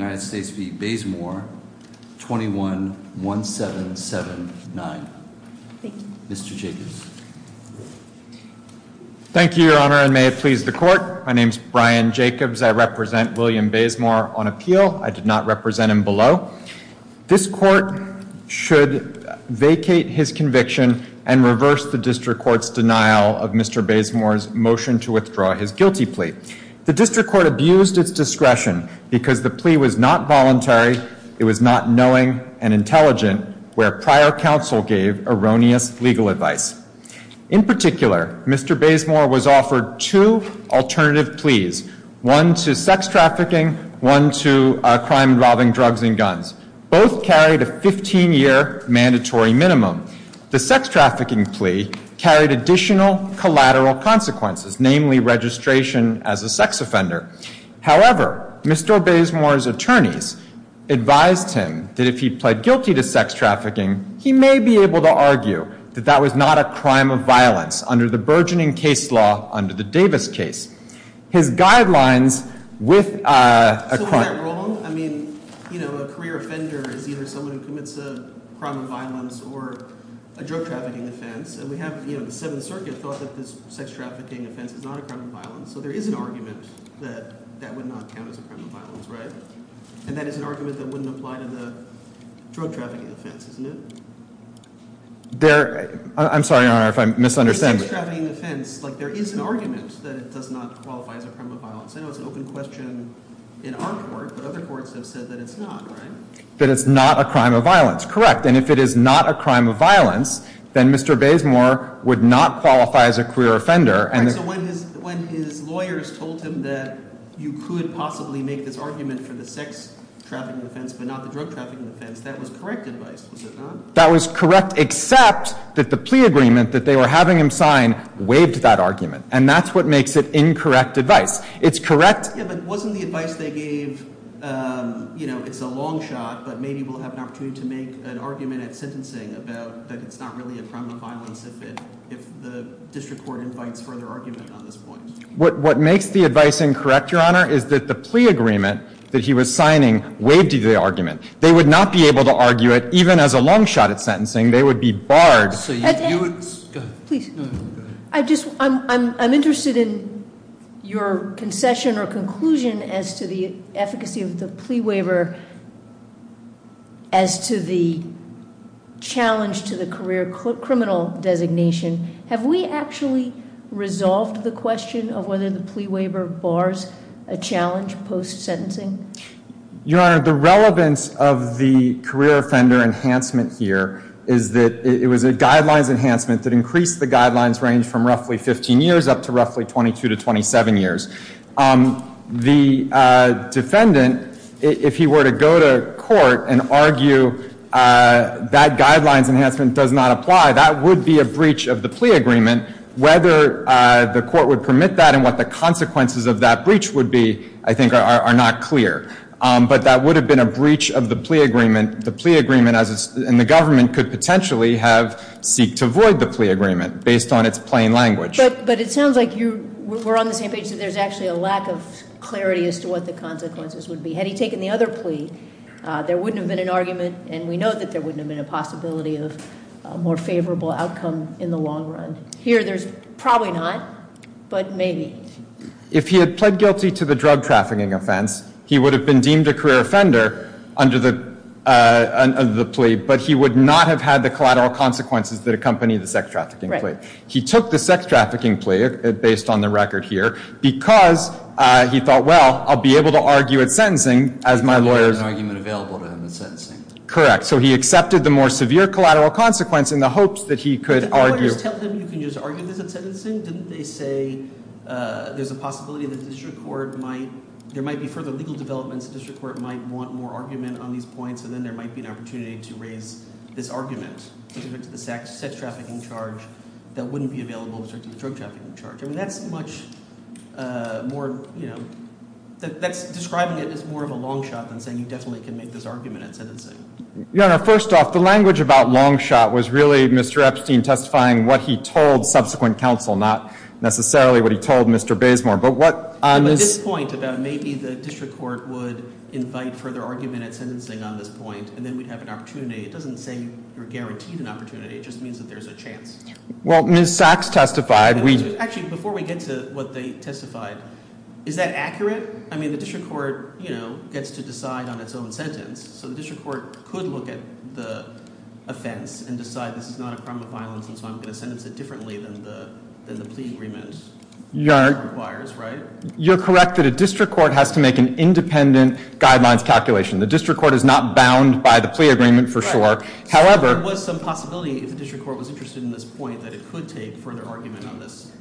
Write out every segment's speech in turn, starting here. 21-1779. Mr. Jacobs. Thank you, your honor, and may it please the court. My name is Brian Jacobs. I represent William Bazemore on appeal. I did not represent him below. This court should vacate his conviction and reverse the district court's denial of Mr. Bazemore's motion to withdraw his guilty plea. The district court abused its discretion because the plea was not voluntary. It was not knowing and intelligent, where prior counsel gave erroneous legal advice. In particular, Mr. Bazemore was offered two alternative pleas, one to sex trafficking, one to crime involving drugs and guns. Both carried a 15-year mandatory minimum. The sex trafficking plea carried additional collateral consequences, namely as a sex offender. However, Mr. Bazemore's attorneys advised him that if he pled guilty to sex trafficking, he may be able to argue that that was not a crime of violence under the burgeoning case law under the Davis case. His guidelines with a crime. So was I wrong? I mean, you know, a career offender is either someone who commits a crime of violence or a drug trafficking offense. And we have a crime of violence. So there is an argument that that would not count as a crime of violence, right? And that is an argument that wouldn't apply to the drug trafficking offense, isn't it? I'm sorry, Your Honor, if I'm misunderstanding. There is an argument that it does not qualify as a crime of violence. I know it's an open question in our court, but other courts have said that it's not, right? That it's not a crime of violence. Correct. And if it is not a crime of violence, then Mr. Bazemore would not qualify as a career offender. So when his lawyers told him that you could possibly make this argument for the sex trafficking offense, but not the drug trafficking offense, that was correct advice, was it not? That was correct, except that the plea agreement that they were having him sign waived that argument. And that's what makes it incorrect advice. It's correct. Yeah, but wasn't the advice they gave, you know, it's a long shot, but maybe we'll have an opportunity to make an argument at sentencing about that it's not really a crime of violence if the district court invites further argument on this point. What makes the advice incorrect, Your Honor, is that the plea agreement that he was signing waived the argument. They would not be able to argue it even as a long shot at sentencing. They would be barred. I'm interested in your concession or conclusion as to the efficacy of the plea waiver as to the challenge to the career criminal designation. Have we actually resolved the question of whether the plea waiver bars a challenge post sentencing? Your Honor, the relevance of the career offender enhancement here is that it was a guidelines enhancement that increased the guidelines range from roughly 15 years up to roughly 22 to 27 years. The defendant, if he were to go to court and argue that guidelines enhancement does not apply, that would be a breach of the plea agreement. Whether the court would permit that and what the consequences of that breach would be, I think, are not clear. But that would have been a breach of the plea agreement. The plea agreement and the government could potentially have seeked to void the plea agreement based on its plain language. But it sounds like we're on the same page that there's actually a lack of clarity as to what the consequences would be. Had he taken the other plea, there wouldn't have been an argument, and we know that there wouldn't have been a possibility of a more favorable outcome in the long run. Here, there's probably not, but maybe. If he had pled guilty to the drug trafficking offense, he would have been deemed a career offender under the plea, but he would not have had the collateral consequences that accompany the sex trafficking plea. He took the sex trafficking plea, based on the record here, because he thought, well, I'll be able to argue at sentencing as my lawyers— There wouldn't have been an argument available to him at sentencing. Correct. So he accepted the more severe collateral consequence in the hopes that he could argue— Didn't the lawyers tell him you can just argue this at sentencing? Didn't they say there's a possibility that the district court might—there might be further legal developments, the district court might want more argument on these points, and then there might be an opportunity to raise this argument with respect to the sex trafficking charge that wouldn't be available with respect to the drug trafficking charge? I mean, that's much more—that's describing it as more of a long shot than saying you definitely can make this argument at sentencing. Your Honor, first off, the language about long shot was really Mr. Epstein testifying what he told subsequent counsel, not necessarily what he told Mr. Bazemore. But what— But this point about maybe the district court would invite further argument at sentencing on this point, and then we'd have an opportunity. It doesn't say you're guaranteed an opportunity. It just means that there's a chance. Well, Ms. Sachs testified— Actually, before we get to what they testified, is that accurate? I mean, the district court, you know, gets to decide on its own sentence. So the district court could look at the offense and decide this is not a crime of violence, and so I'm going to sentence it differently than the plea agreement requires, right? Your Honor, you're correct that a district court has to make an independent guidelines calculation. The district court is not bound by the plea agreement for sure. However— There was some possibility if the district court was interested in this point that it could take further argument on this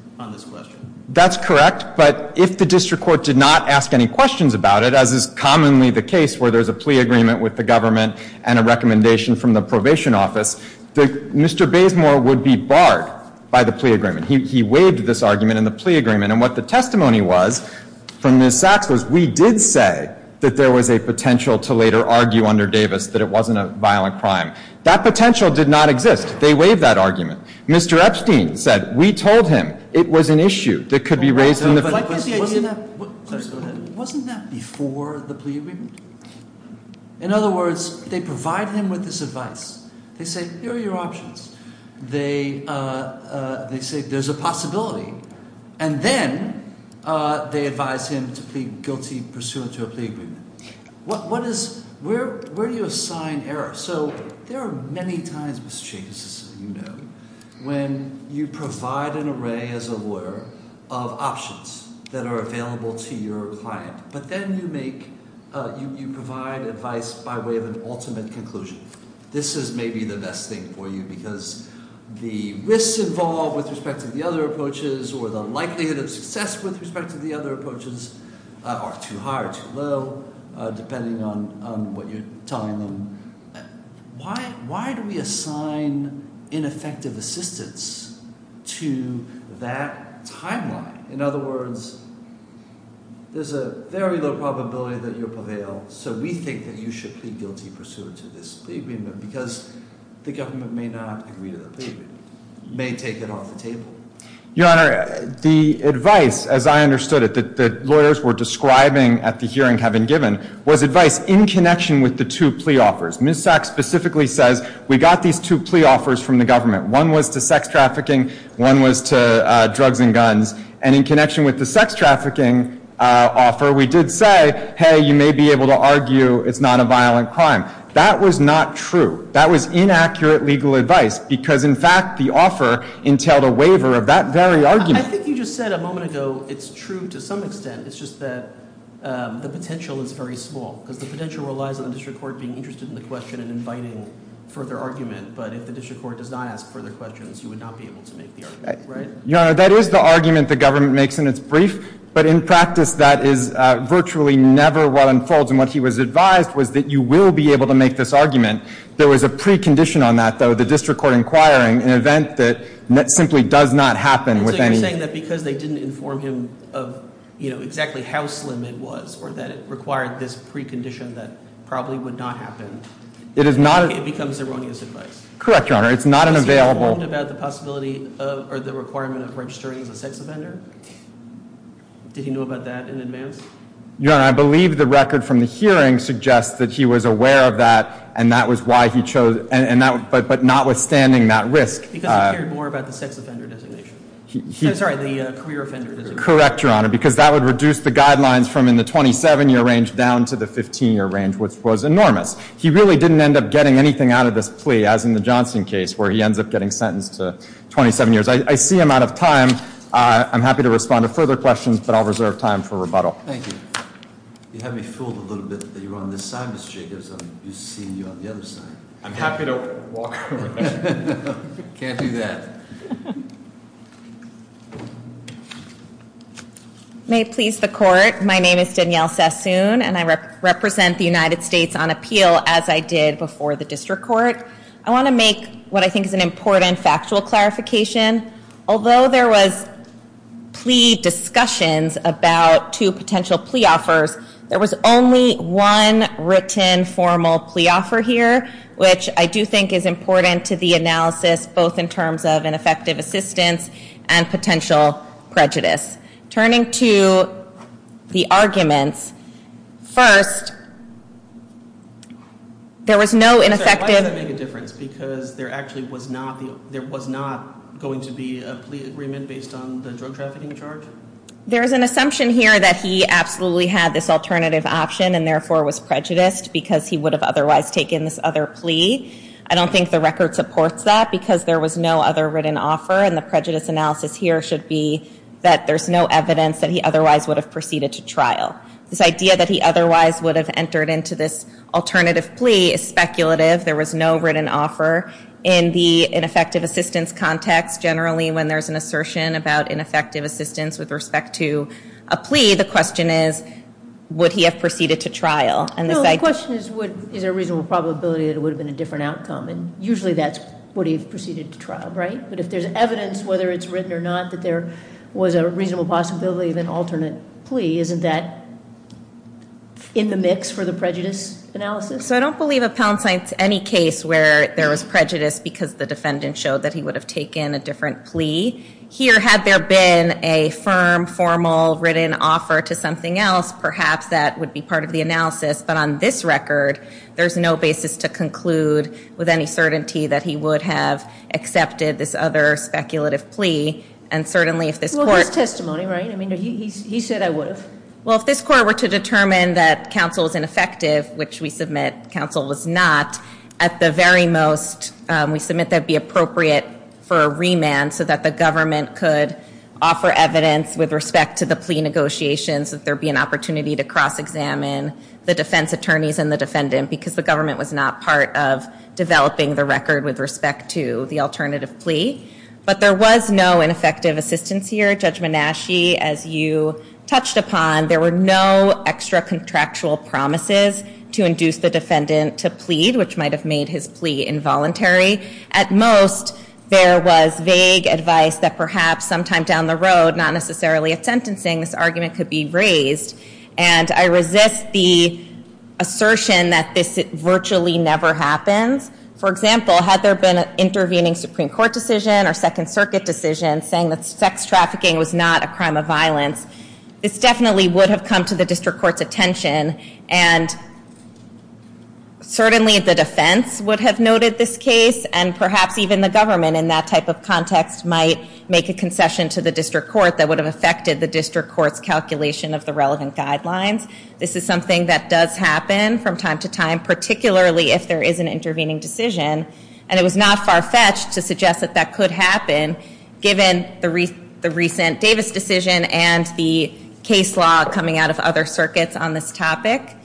question. That's correct. But if the district court did not ask any questions about it, as is commonly the case where there's a plea agreement with the government and a recommendation from the probation office, Mr. Bazemore would be barred by the plea agreement. He waived this argument in the plea agreement. And what the testimony was from Ms. Sachs was we did say that there was a potential to later argue under Davis that it wasn't a violent crime. That potential did not exist. They waived that argument. Mr. Epstein said we told him it was an issue that could be raised in the— Wasn't that before the plea agreement? In other words, they provide him with this advice. They say, here are your options. They say there's a possibility. And then they advise him to plead guilty pursuant to a plea agreement. What is—where do you assign error? So there are many times, Mr. Chase, as you know, when you provide an array as a lawyer of options that are available to your client. But then you make—you provide advice by way of an ultimate conclusion. This is maybe the best thing for you because the risks involved with respect to the other approaches or the likelihood of success with respect to the other approaches are too high or too low, depending on what you're telling them. Why do we assign ineffective assistance to that timeline? In other words, there's a very low probability that you prevail, so we think that you should plead guilty pursuant to this plea agreement because the government may not agree to the plea agreement. It may take it off the table. Your Honor, the advice, as I understood it, that lawyers were describing at the hearing having given was advice in connection with the two plea offers. Ms. Sachs specifically says we got these two plea offers from the government. One was to sex trafficking. One was to drugs and guns. And in connection with the sex trafficking offer, we did say, hey, you may be able to argue it's not a violent crime. That was not true. That was inaccurate legal advice because, in fact, the offer entailed a waiver of that very argument. I think you just said a moment ago it's true to some extent. It's just that the potential is very small because the potential relies on the district court being interested in the question and inviting further argument. But if the district court does not ask further questions, you would not be able to make the argument, right? Your Honor, that is the argument the government makes, and it's brief. But in practice, that is virtually never what unfolds. And what he was advised was that you will be able to make this argument. There was a precondition on that, though, the district court inquiring, an event that simply does not happen with any – So you're saying that because they didn't inform him of exactly how slim it was or that it required this precondition that probably would not happen, it becomes erroneous advice. Correct, Your Honor. It's not an available – Was he informed about the possibility or the requirement of registering as a sex offender? Did he know about that in advance? Your Honor, I believe the record from the hearing suggests that he was aware of that, and that was why he chose – but notwithstanding that risk – Because he cared more about the sex offender designation. I'm sorry, the career offender designation. Correct, Your Honor, because that would reduce the guidelines from in the 27-year range down to the 15-year range, which was enormous. He really didn't end up getting anything out of this plea, as in the Johnson case, where he ends up getting sentenced to 27 years. I see I'm out of time. I'm happy to respond to further questions, but I'll reserve time for rebuttal. Thank you. You had me fooled a little bit that you were on this side, Mr. Jacobs. I'm used to seeing you on the other side. I'm happy to walk around. Can't do that. May it please the Court. My name is Danielle Sassoon, and I represent the United States on appeal, as I did before the District Court. I want to make what I think is an important factual clarification. Although there was plea discussions about two potential plea offers, there was only one written formal plea offer here, which I do think is important to the analysis, both in terms of ineffective assistance and potential prejudice. Turning to the arguments, first, there was no ineffective— I'm sorry. Why does that make a difference? Because there actually was not going to be a plea agreement based on the drug trafficking charge? There is an assumption here that he absolutely had this alternative option and therefore was prejudiced because he would have otherwise taken this other plea. I don't think the record supports that because there was no other written offer, and the prejudice analysis here should be that there's no evidence that he otherwise would have proceeded to trial. This idea that he otherwise would have entered into this alternative plea is speculative. There was no written offer. In the ineffective assistance context, generally when there's an assertion about ineffective assistance with respect to a plea, the question is, would he have proceeded to trial? No, the question is, is there a reasonable probability that it would have been a different outcome, and usually that's would he have proceeded to trial, right? But if there's evidence, whether it's written or not, that there was a reasonable possibility of an alternate plea, isn't that in the mix for the prejudice analysis? So I don't believe Appellant Saint's any case where there was prejudice because the defendant showed that he would have taken a different plea. Here, had there been a firm, formal, written offer to something else, perhaps that would be part of the analysis, but on this record, there's no basis to conclude with any certainty that he would have accepted this other speculative plea. And certainly if this court- Well, his testimony, right? I mean, he said I would have. Well, if this court were to determine that counsel is ineffective, which we submit counsel was not, at the very most, we submit that it would be appropriate for a remand so that the government could offer evidence with respect to the plea negotiations, that there be an opportunity to cross-examine the defense attorneys and the defendant because the government was not part of developing the record with respect to the alternative plea. But there was no ineffective assistance here. Judge Menasche, as you touched upon, there were no extra contractual promises to induce the defendant to plead, which might have made his plea involuntary. At most, there was vague advice that perhaps sometime down the road, not necessarily at sentencing, this argument could be raised. And I resist the assertion that this virtually never happens. For example, had there been an intervening Supreme Court decision or Second Circuit decision saying that sex trafficking was not a crime of violence, this definitely would have come to the district court's attention. And certainly the defense would have noted this case, and perhaps even the government in that type of context might make a concession to the district court that would have affected the district court's calculation of the relevant guidelines. This is something that does happen from time to time, particularly if there is an intervening decision, and it was not far-fetched to suggest that that could happen given the recent Davis decision and the case law coming out of other circuits on this topic.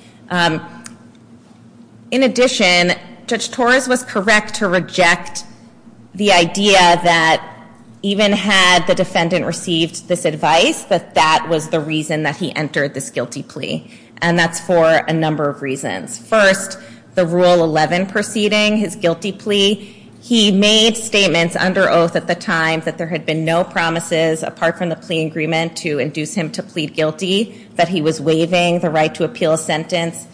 In addition, Judge Torres was correct to reject the idea that even had the defendant received this advice, that that was the reason that he entered this guilty plea. And that's for a number of reasons. First, the Rule 11 preceding his guilty plea, he made statements under oath at the time that there had been no promises apart from the plea agreement to induce him to plead guilty, that he was waiving the right to appeal a sentence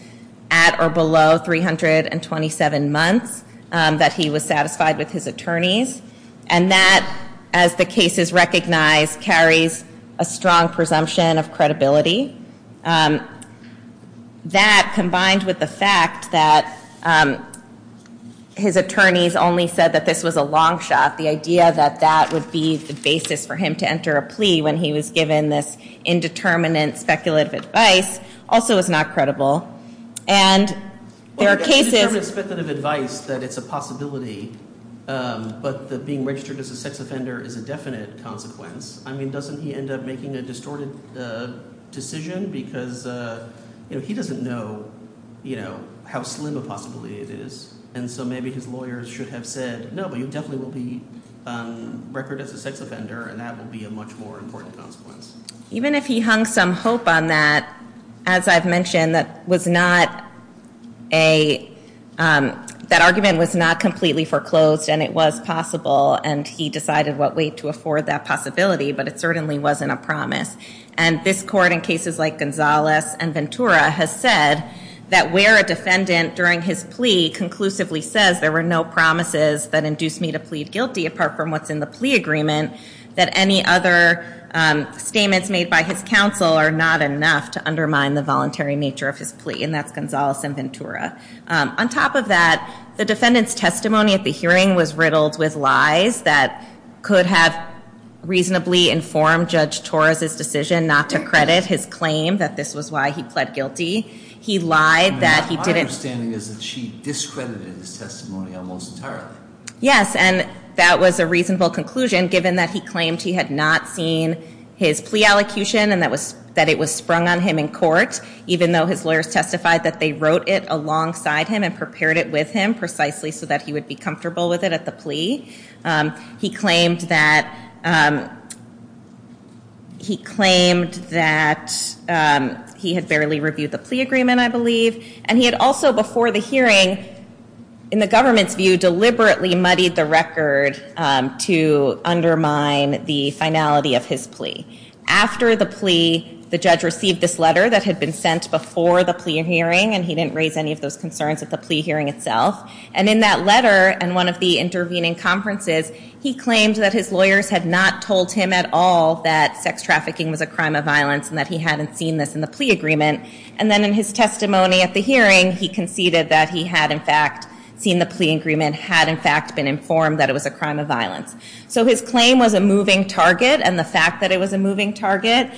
at or below 327 months, that he was satisfied with his attorneys. And that, as the case is recognized, carries a strong presumption of credibility. That combined with the fact that his attorneys only said that this was a long shot, the idea that that would be the basis for him to enter a plea when he was given this indeterminate speculative advice, also is not credible. And there are cases... Well, there's indeterminate speculative advice that it's a possibility, but that being registered as a sex offender is a definite consequence. I mean, doesn't he end up making a distorted decision? Because he doesn't know how slim a possibility it is. And so maybe his lawyers should have said, no, but you definitely will be on record as a sex offender, and that will be a much more important consequence. Even if he hung some hope on that, as I've mentioned, that argument was not completely foreclosed, and it was possible, and he decided what way to afford that possibility, but it certainly wasn't a promise. And this Court, in cases like Gonzalez and Ventura, has said that where a defendant, during his plea, conclusively says there were no promises that induced me to plead guilty, apart from what's in the plea agreement, that any other statements made by his counsel are not enough to undermine the voluntary nature of his plea, and that's Gonzalez and Ventura. On top of that, the defendant's testimony at the hearing was riddled with lies that could have reasonably informed Judge Torres' decision not to credit his claim that this was why he pled guilty. He lied that he didn't... My understanding is that she discredited his testimony almost entirely. Yes, and that was a reasonable conclusion, given that he claimed he had not seen his plea allocution and that it was sprung on him in court, even though his lawyers testified that they wrote it alongside him and prepared it with him precisely so that he would be comfortable with it at the plea. He claimed that he had barely reviewed the plea agreement, I believe, and he had also, before the hearing, in the government's view, deliberately muddied the record to undermine the finality of his plea. After the plea, the judge received this letter that had been sent before the plea hearing, and he didn't raise any of those concerns at the plea hearing itself, and in that letter and one of the intervening conferences, he claimed that his lawyers had not told him at all that sex trafficking was a crime of violence and that he hadn't seen this in the plea agreement, and then in his testimony at the hearing, he conceded that he had in fact seen the plea agreement, had in fact been informed that it was a crime of violence. So his claim was a moving target, and the fact that it was a moving target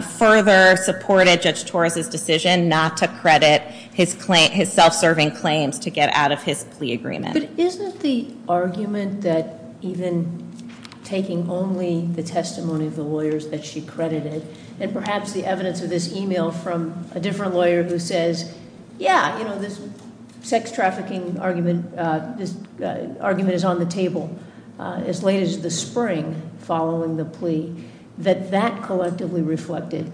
further supported Judge Torres' decision not to credit his self-serving claims to get out of his plea agreement. But isn't the argument that even taking only the testimony of the lawyers that she credited and perhaps the evidence of this e-mail from a different lawyer who says, yeah, you know, this sex trafficking argument is on the table as late as the spring following the plea, that that collectively reflected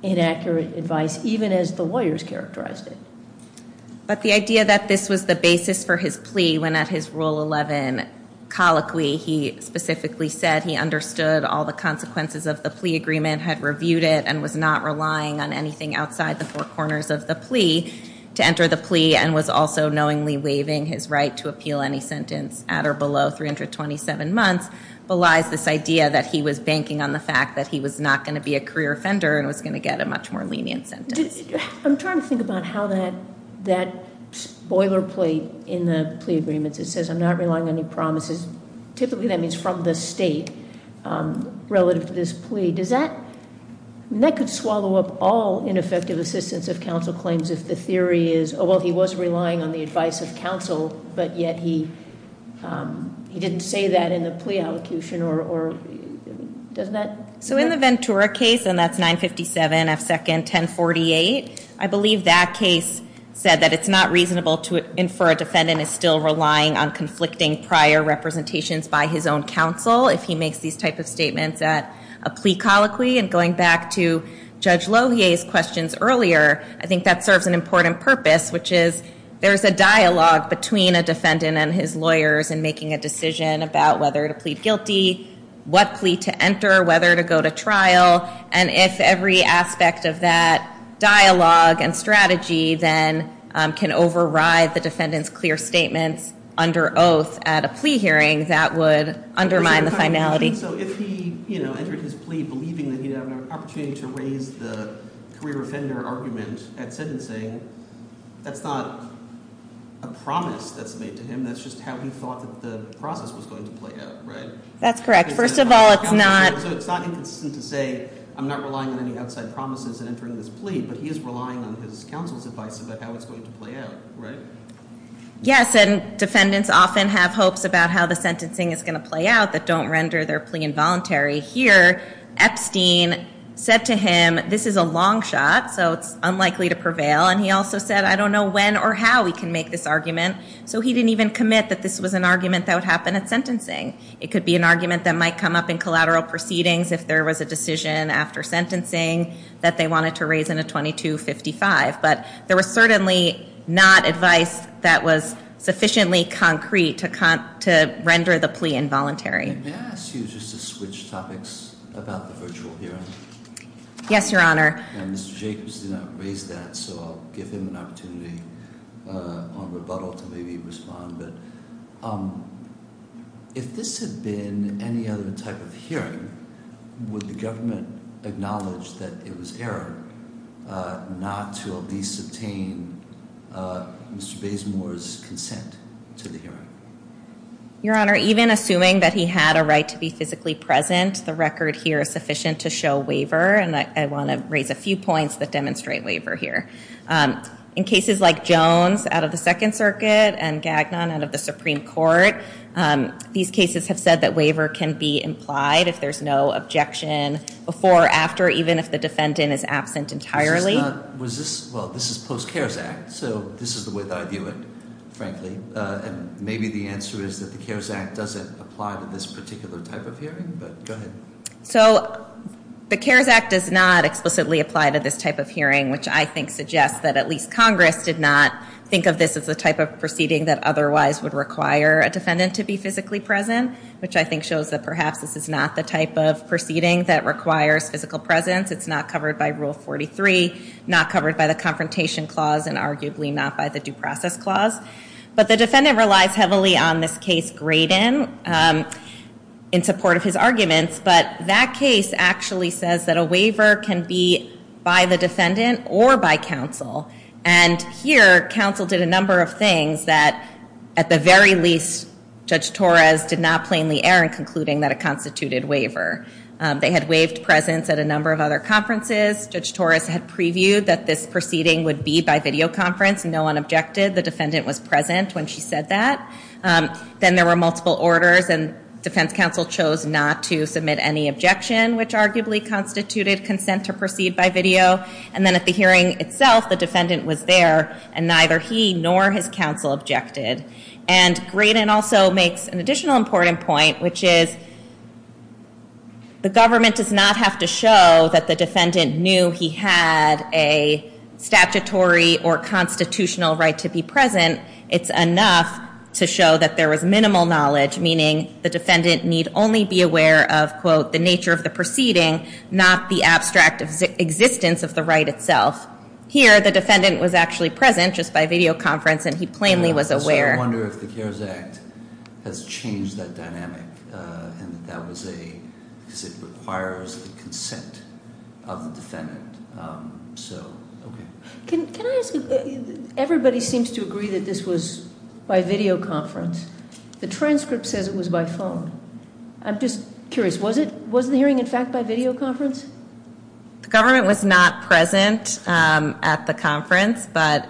inaccurate advice even as the lawyers characterized it? But the idea that this was the basis for his plea when at his Rule 11 colloquy he specifically said he understood all the consequences of the plea agreement, had reviewed it, and was not relying on anything outside the four corners of the plea to enter the plea and was also knowingly waiving his right to appeal any sentence at or below 327 months belies this idea that he was banking on the fact that he was not going to be a career offender and was going to get a much more lenient sentence. I'm trying to think about how that boilerplate in the plea agreements, it says I'm not relying on any promises. Typically that means from the state relative to this plea. Does that, that could swallow up all ineffective assistance of counsel claims if the theory is, oh, well, he was relying on the advice of counsel, but yet he didn't say that in the plea allocation, or doesn't that? So in the Ventura case, and that's 957 F. Second 1048, I believe that case said that it's not reasonable to infer a defendant is still relying on conflicting prior representations by his own counsel if he makes these type of statements at a plea colloquy. And going back to Judge Lohier's questions earlier, I think that serves an important purpose, which is there's a dialogue between a defendant and his lawyers in making a decision about whether to plead guilty, what plea to enter, whether to go to trial, and if every aspect of that dialogue and strategy then can override the defendant's clear statements under oath at a plea hearing, that would undermine the finality. So if he, you know, entered his plea believing that he'd have an opportunity to raise the career offender argument at sentencing, that's not a promise that's made to him, that's just how he thought that the process was going to play out, right? That's correct. First of all, it's not... So it's not inconsistent to say, I'm not relying on any outside promises in entering this plea, but he is relying on his counsel's advice about how it's going to play out, right? Yes, and defendants often have hopes about how the sentencing is going to play out that don't render their plea involuntary. Here, Epstein said to him, this is a long shot, so it's unlikely to prevail, and he also said, I don't know when or how he can make this argument, so he didn't even commit that this was an argument that would happen at sentencing. It could be an argument that might come up in collateral proceedings, if there was a decision after sentencing that they wanted to raise in a 2255, but there was certainly not advice that was sufficiently concrete to render the plea involuntary. May I ask you just to switch topics about the virtual hearing? Yes, Your Honor. Mr. Jacobs did not raise that, so I'll give him an opportunity on rebuttal to maybe respond, but if this had been any other type of hearing, would the government acknowledge that it was error not to at least obtain Mr. Bazemore's consent to the hearing? Your Honor, even assuming that he had a right to be physically present, the record here is sufficient to show waiver, and I want to raise a few points that demonstrate waiver here. In cases like Jones out of the Second Circuit and Gagnon out of the Supreme Court, these cases have said that waiver can be implied if there's no objection before or after, even if the defendant is absent entirely. Was this, well, this is post-CARES Act, so this is the way that I view it, frankly, and maybe the answer is that the CARES Act doesn't apply to this particular type of hearing, but go ahead. So the CARES Act does not explicitly apply to this type of hearing, which I think suggests that at least Congress did not think of this as the type of proceeding that otherwise would require a defendant to be physically present, which I think shows that perhaps this is not the type of proceeding that requires physical presence. It's not covered by Rule 43, not covered by the Confrontation Clause, and arguably not by the Due Process Clause. But the defendant relies heavily on this case, Graydon, in support of his arguments, but that case actually says that a waiver can be by the defendant or by counsel. And here, counsel did a number of things that, at the very least, Judge Torres did not plainly err in concluding that it constituted waiver. They had waived presence at a number of other conferences. Judge Torres had previewed that this proceeding would be by videoconference. No one objected. The defendant was present when she said that. Then there were multiple orders, and defense counsel chose not to submit any objection, which arguably constituted consent to proceed by video. And then at the hearing itself, the defendant was there, and neither he nor his counsel objected. And Graydon also makes an additional important point, which is the government does not have to show that the defendant knew he had a statutory or constitutional right to be present. It's enough to show that there was minimal knowledge, meaning the defendant need only be aware of, quote, the nature of the proceeding, not the abstract existence of the right itself. Here, the defendant was actually present just by videoconference, and he plainly was aware. So I wonder if the CARES Act has changed that dynamic, and that that was a, because it requires a consent of the defendant. So, okay. Can I ask, everybody seems to agree that this was by videoconference. The transcript says it was by phone. I'm just curious, was the hearing, in fact, by videoconference? The government was not present at the conference, but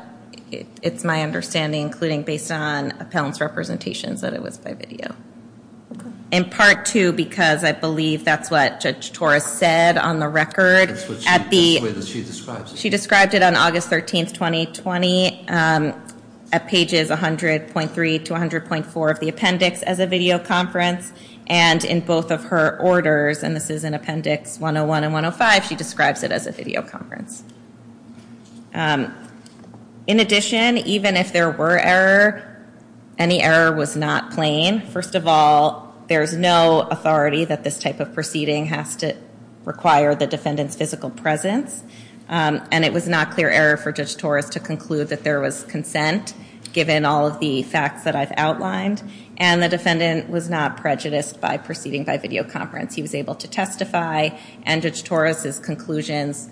it's my understanding, including based on appellant's representations, that it was by video. Okay. In part, too, because I believe that's what Judge Torres said on the record. That's the way that she describes it. She described it on August 13, 2020, at pages 100.3 to 100.4 of the appendix as a videoconference, and in both of her orders, and this is in appendix 101 and 105, she describes it as a videoconference. In addition, even if there were error, any error was not plain. First of all, there's no authority that this type of proceeding has to require the defendant's physical presence. And it was not clear error for Judge Torres to conclude that there was consent, given all of the facts that I've outlined, and the defendant was not prejudiced by proceeding by videoconference. He was able to testify, and Judge Torres's conclusions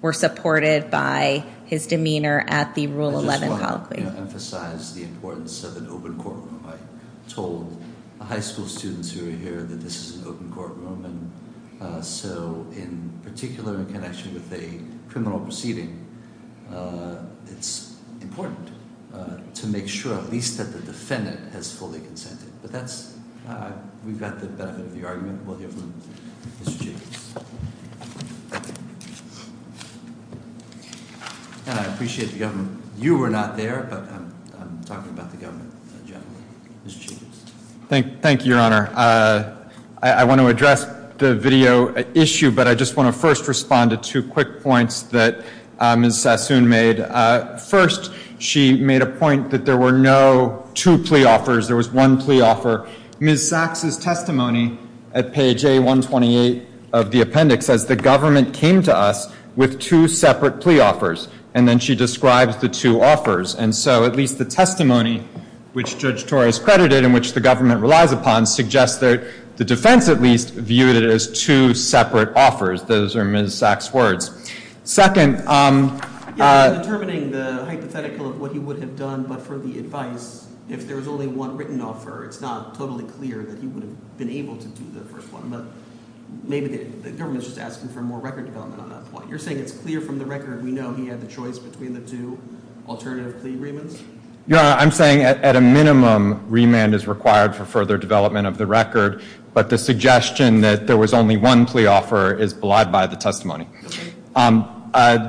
were supported by his demeanor at the Rule 11 colloquy. I just want to emphasize the importance of an open courtroom. I told the high school students who were here that this is an open courtroom, so in particular in connection with a criminal proceeding, it's important to make sure at least that the defendant has fully consented. But that's, we've got the benefit of the argument. We'll hear from Mr. Jacobs. And I appreciate the government. You were not there, but I'm talking about the government generally. Mr. Jacobs. Thank you, Your Honor. I want to address the video issue, but I just want to first respond to two quick points that Ms. Sassoon made. First, she made a point that there were no two plea offers. There was one plea offer. Ms. Sachs' testimony at page A128 of the appendix says, the government came to us with two separate plea offers, and then she describes the two offers. And so at least the testimony, which Judge Torres credited and which the government relies upon, suggests that the defense at least viewed it as two separate offers. Those are Ms. Sachs' words. Second, Yes, in determining the hypothetical of what he would have done, but for the advice, if there was only one written offer, it's not totally clear that he would have been able to do the first one. But maybe the government's just asking for more record development on that point. You're saying it's clear from the record we know he had the choice between the two alternative plea agreements? Your Honor, I'm saying at a minimum, remand is required for further development of the record. But the suggestion that there was only one plea offer is belied by the testimony.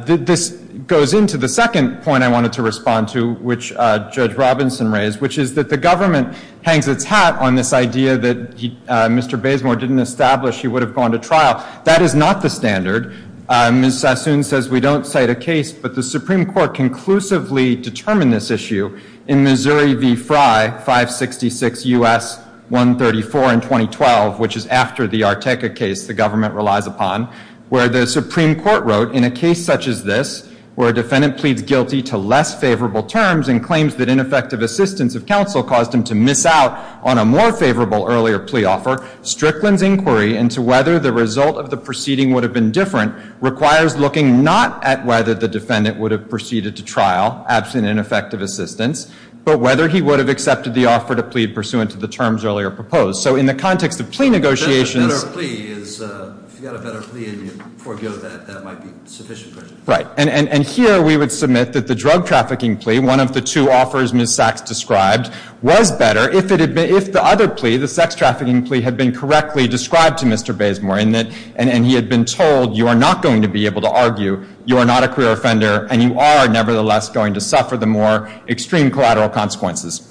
This goes into the second point I wanted to respond to, which Judge Robinson raised, which is that the government hangs its hat on this idea that Mr. Bazemore didn't establish he would have gone to trial. That is not the standard. Ms. Sassoon says we don't cite a case, but the Supreme Court conclusively determined this issue in Missouri v. Fry, 566 U.S. 134 in 2012, which is after the Arteca case the government relies upon, where the Supreme Court wrote, In a case such as this, where a defendant pleads guilty to less favorable terms and claims that ineffective assistance of counsel caused him to miss out on a more favorable earlier plea offer, Strickland's inquiry into whether the result of the proceeding would have been different requires looking not at whether the defendant would have proceeded to trial, absent ineffective assistance, but whether he would have accepted the offer to plead pursuant to the terms earlier proposed. So in the context of plea negotiations If you had a better plea and you forgo that, that might be sufficient. Right. And here we would submit that the drug trafficking plea, one of the two offers Ms. Sachs described, was better if the other plea, the sex trafficking plea, had been correctly described to Mr. Bazemore and he had been told you are not going to be able to argue, you are not a queer offender, and you are nevertheless going to suffer the more extreme collateral consequences.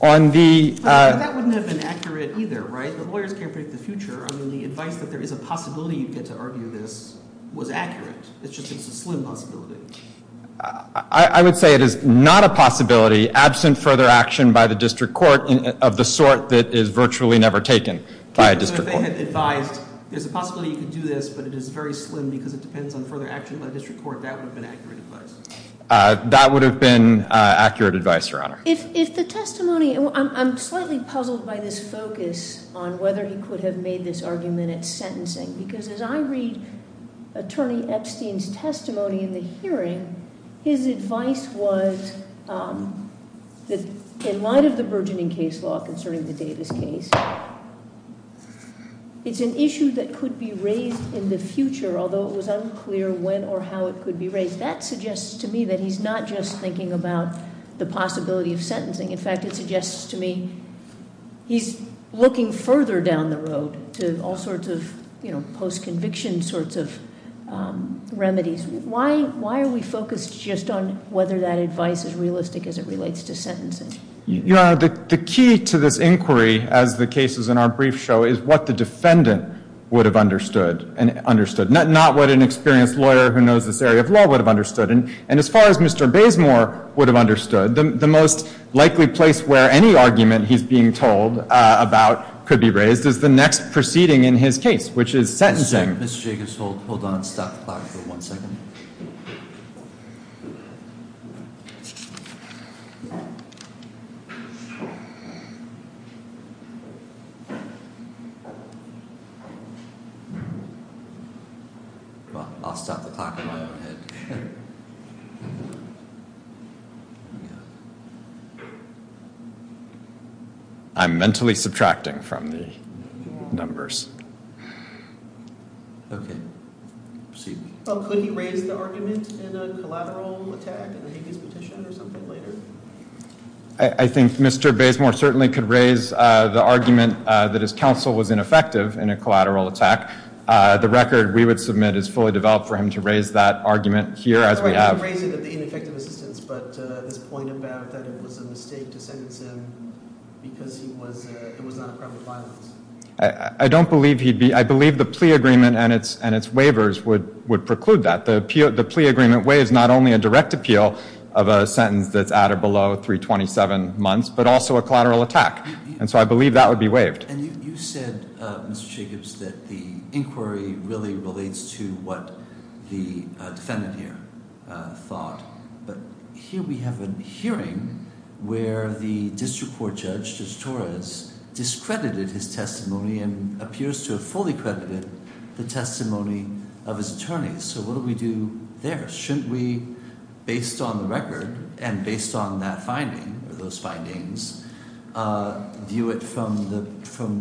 But that wouldn't have been accurate either, right? The lawyers can't predict the future. I mean, the advice that there is a possibility you'd get to argue this was accurate. It's just a slim possibility. I would say it is not a possibility absent further action by the district court of the sort that is virtually never taken by a district court. So if they had advised there is a possibility you could do this, but it is very slim because it depends on further action by the district court, that would have been accurate advice. That would have been accurate advice, Your Honor. If the testimony, I'm slightly puzzled by this focus on whether he could have made this argument at sentencing because as I read Attorney Epstein's testimony in the hearing, his advice was that in light of the burgeoning case law concerning the Davis case, it's an issue that could be raised in the future, although it was unclear when or how it could be raised. That suggests to me that he's not just thinking about the possibility of sentencing. In fact, it suggests to me he's looking further down the road to all sorts of post-conviction sorts of remedies. Why are we focused just on whether that advice is realistic as it relates to sentencing? Your Honor, the key to this inquiry as the cases in our brief show is what the defendant would have understood, not what an experienced lawyer who knows this area of law would have understood. And as far as Mr. Bazemore would have understood, the most likely place where any argument he's being told about could be raised is the next proceeding in his case, which is sentencing. Mr. Jacobs, hold on. Stop the clock for one second. I'll stop the clock in my own head. I'm mentally subtracting from the numbers. Okay. Proceed. Could he raise the argument in a collateral attack in the Hague's petition or something later? I think Mr. Bazemore certainly could raise the argument that his counsel was ineffective in a collateral attack. The record we would submit is fully developed for him to raise that argument here as we have. He could raise it at the ineffective assistance, but his point about that it was a mistake to sentence him because it was not a crime of violence. I don't believe he'd be – I believe the plea agreement and its waivers would preclude that. The plea agreement waives not only a direct appeal of a sentence that's at or below 327 months, but also a collateral attack. And so I believe that would be waived. And you said, Mr. Jacobs, that the inquiry really relates to what the defendant here thought. But here we have a hearing where the district court judge, Judge Torres, discredited his testimony and appears to have fully credited the testimony of his attorney. So what do we do there? Shouldn't we, based on the record and based on that finding, those findings, view it from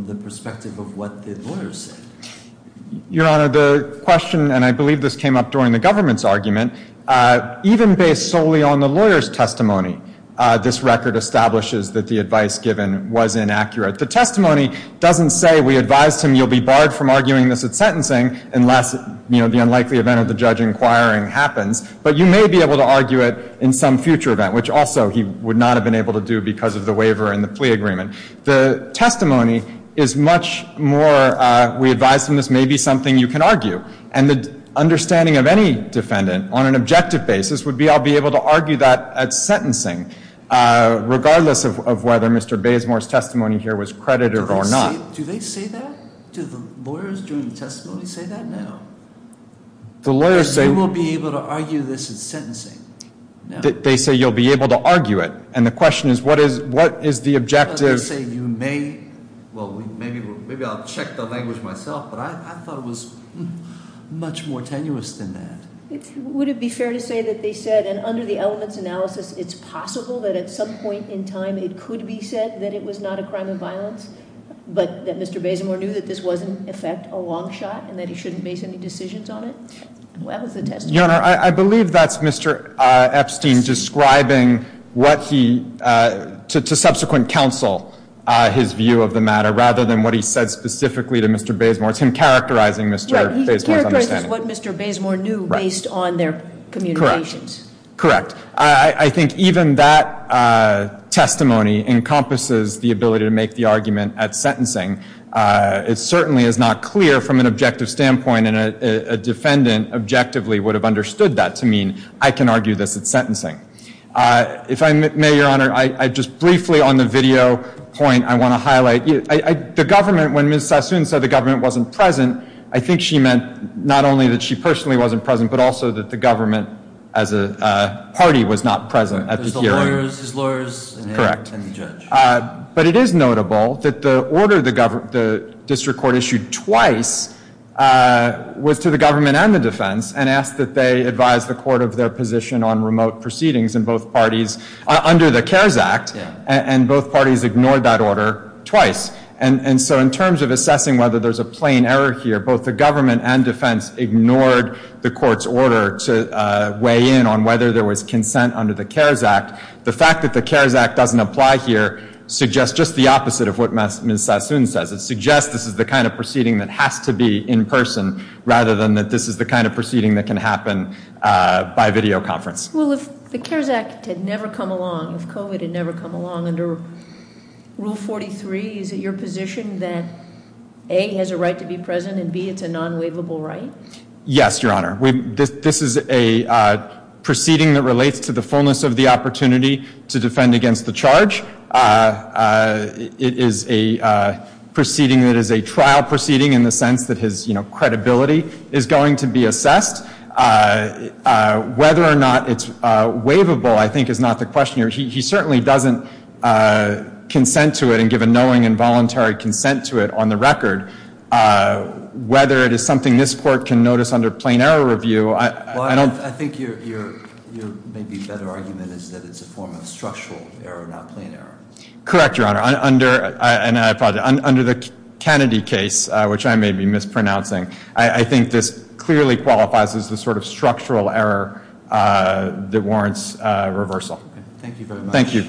the perspective of what the lawyers said? Your Honor, the question, and I believe this came up during the government's argument, even based solely on the lawyer's testimony, this record establishes that the advice given was inaccurate. The testimony doesn't say we advised him he'll be barred from arguing this at sentencing unless, you know, the unlikely event of the judge inquiring happens. But you may be able to argue it in some future event, which also he would not have been able to do because of the waiver and the plea agreement. The testimony is much more, we advised him this may be something you can argue. And the understanding of any defendant, on an objective basis, would be I'll be able to argue that at sentencing, regardless of whether Mr. Bazemore's testimony here was credited or not. Do they say that? Do the lawyers during the testimony say that? No. The lawyers say- You won't be able to argue this at sentencing. They say you'll be able to argue it. And the question is what is the objective- They say you may, well, maybe I'll check the language myself, but I thought it was much more tenuous than that. Would it be fair to say that they said, and under the elements analysis, but that Mr. Bazemore knew that this was, in effect, a long shot and that he shouldn't base any decisions on it? Well, that was the testimony. Your Honor, I believe that's Mr. Epstein describing what he, to subsequent counsel, his view of the matter, rather than what he said specifically to Mr. Bazemore. It's him characterizing Mr. Bazemore's understanding. Right, he characterizes what Mr. Bazemore knew based on their communications. Correct. I think even that testimony encompasses the ability to make the argument at sentencing. It certainly is not clear from an objective standpoint, and a defendant objectively would have understood that to mean, I can argue this at sentencing. If I may, Your Honor, just briefly on the video point I want to highlight, the government, when Ms. Sassoon said the government wasn't present, I think she meant not only that she personally wasn't present, but also that the government as a party was not present at the hearing. There's the lawyers, his lawyers, and the judge. Correct. But it is notable that the order the district court issued twice was to the government and the defense and asked that they advise the court of their position on remote proceedings in both parties under the CARES Act, and both parties ignored that order twice. And so in terms of assessing whether there's a plain error here, both the government and defense ignored the court's order to weigh in on whether there was consent under the CARES Act, the fact that the CARES Act doesn't apply here suggests just the opposite of what Ms. Sassoon says. It suggests this is the kind of proceeding that has to be in person rather than that this is the kind of proceeding that can happen by video conference. Well, if the CARES Act had never come along, if COVID had never come along, under Rule 43, is it your position that A, has a right to be present, and B, it's a non-waivable right? Yes, Your Honor. This is a proceeding that relates to the fullness of the opportunity to defend against the charge. It is a proceeding that is a trial proceeding in the sense that his credibility is going to be assessed. Whether or not it's waivable, I think, is not the question here. He certainly doesn't consent to it and give a knowing and voluntary consent to it on the record. Whether it is something this Court can notice under plain error review, I don't... Well, I think your maybe better argument is that it's a form of structural error, not plain error. Correct, Your Honor. Under the Kennedy case, which I may be mispronouncing, I think this clearly qualifies as the sort of structural error that warrants reversal. Thank you very much. Thank you.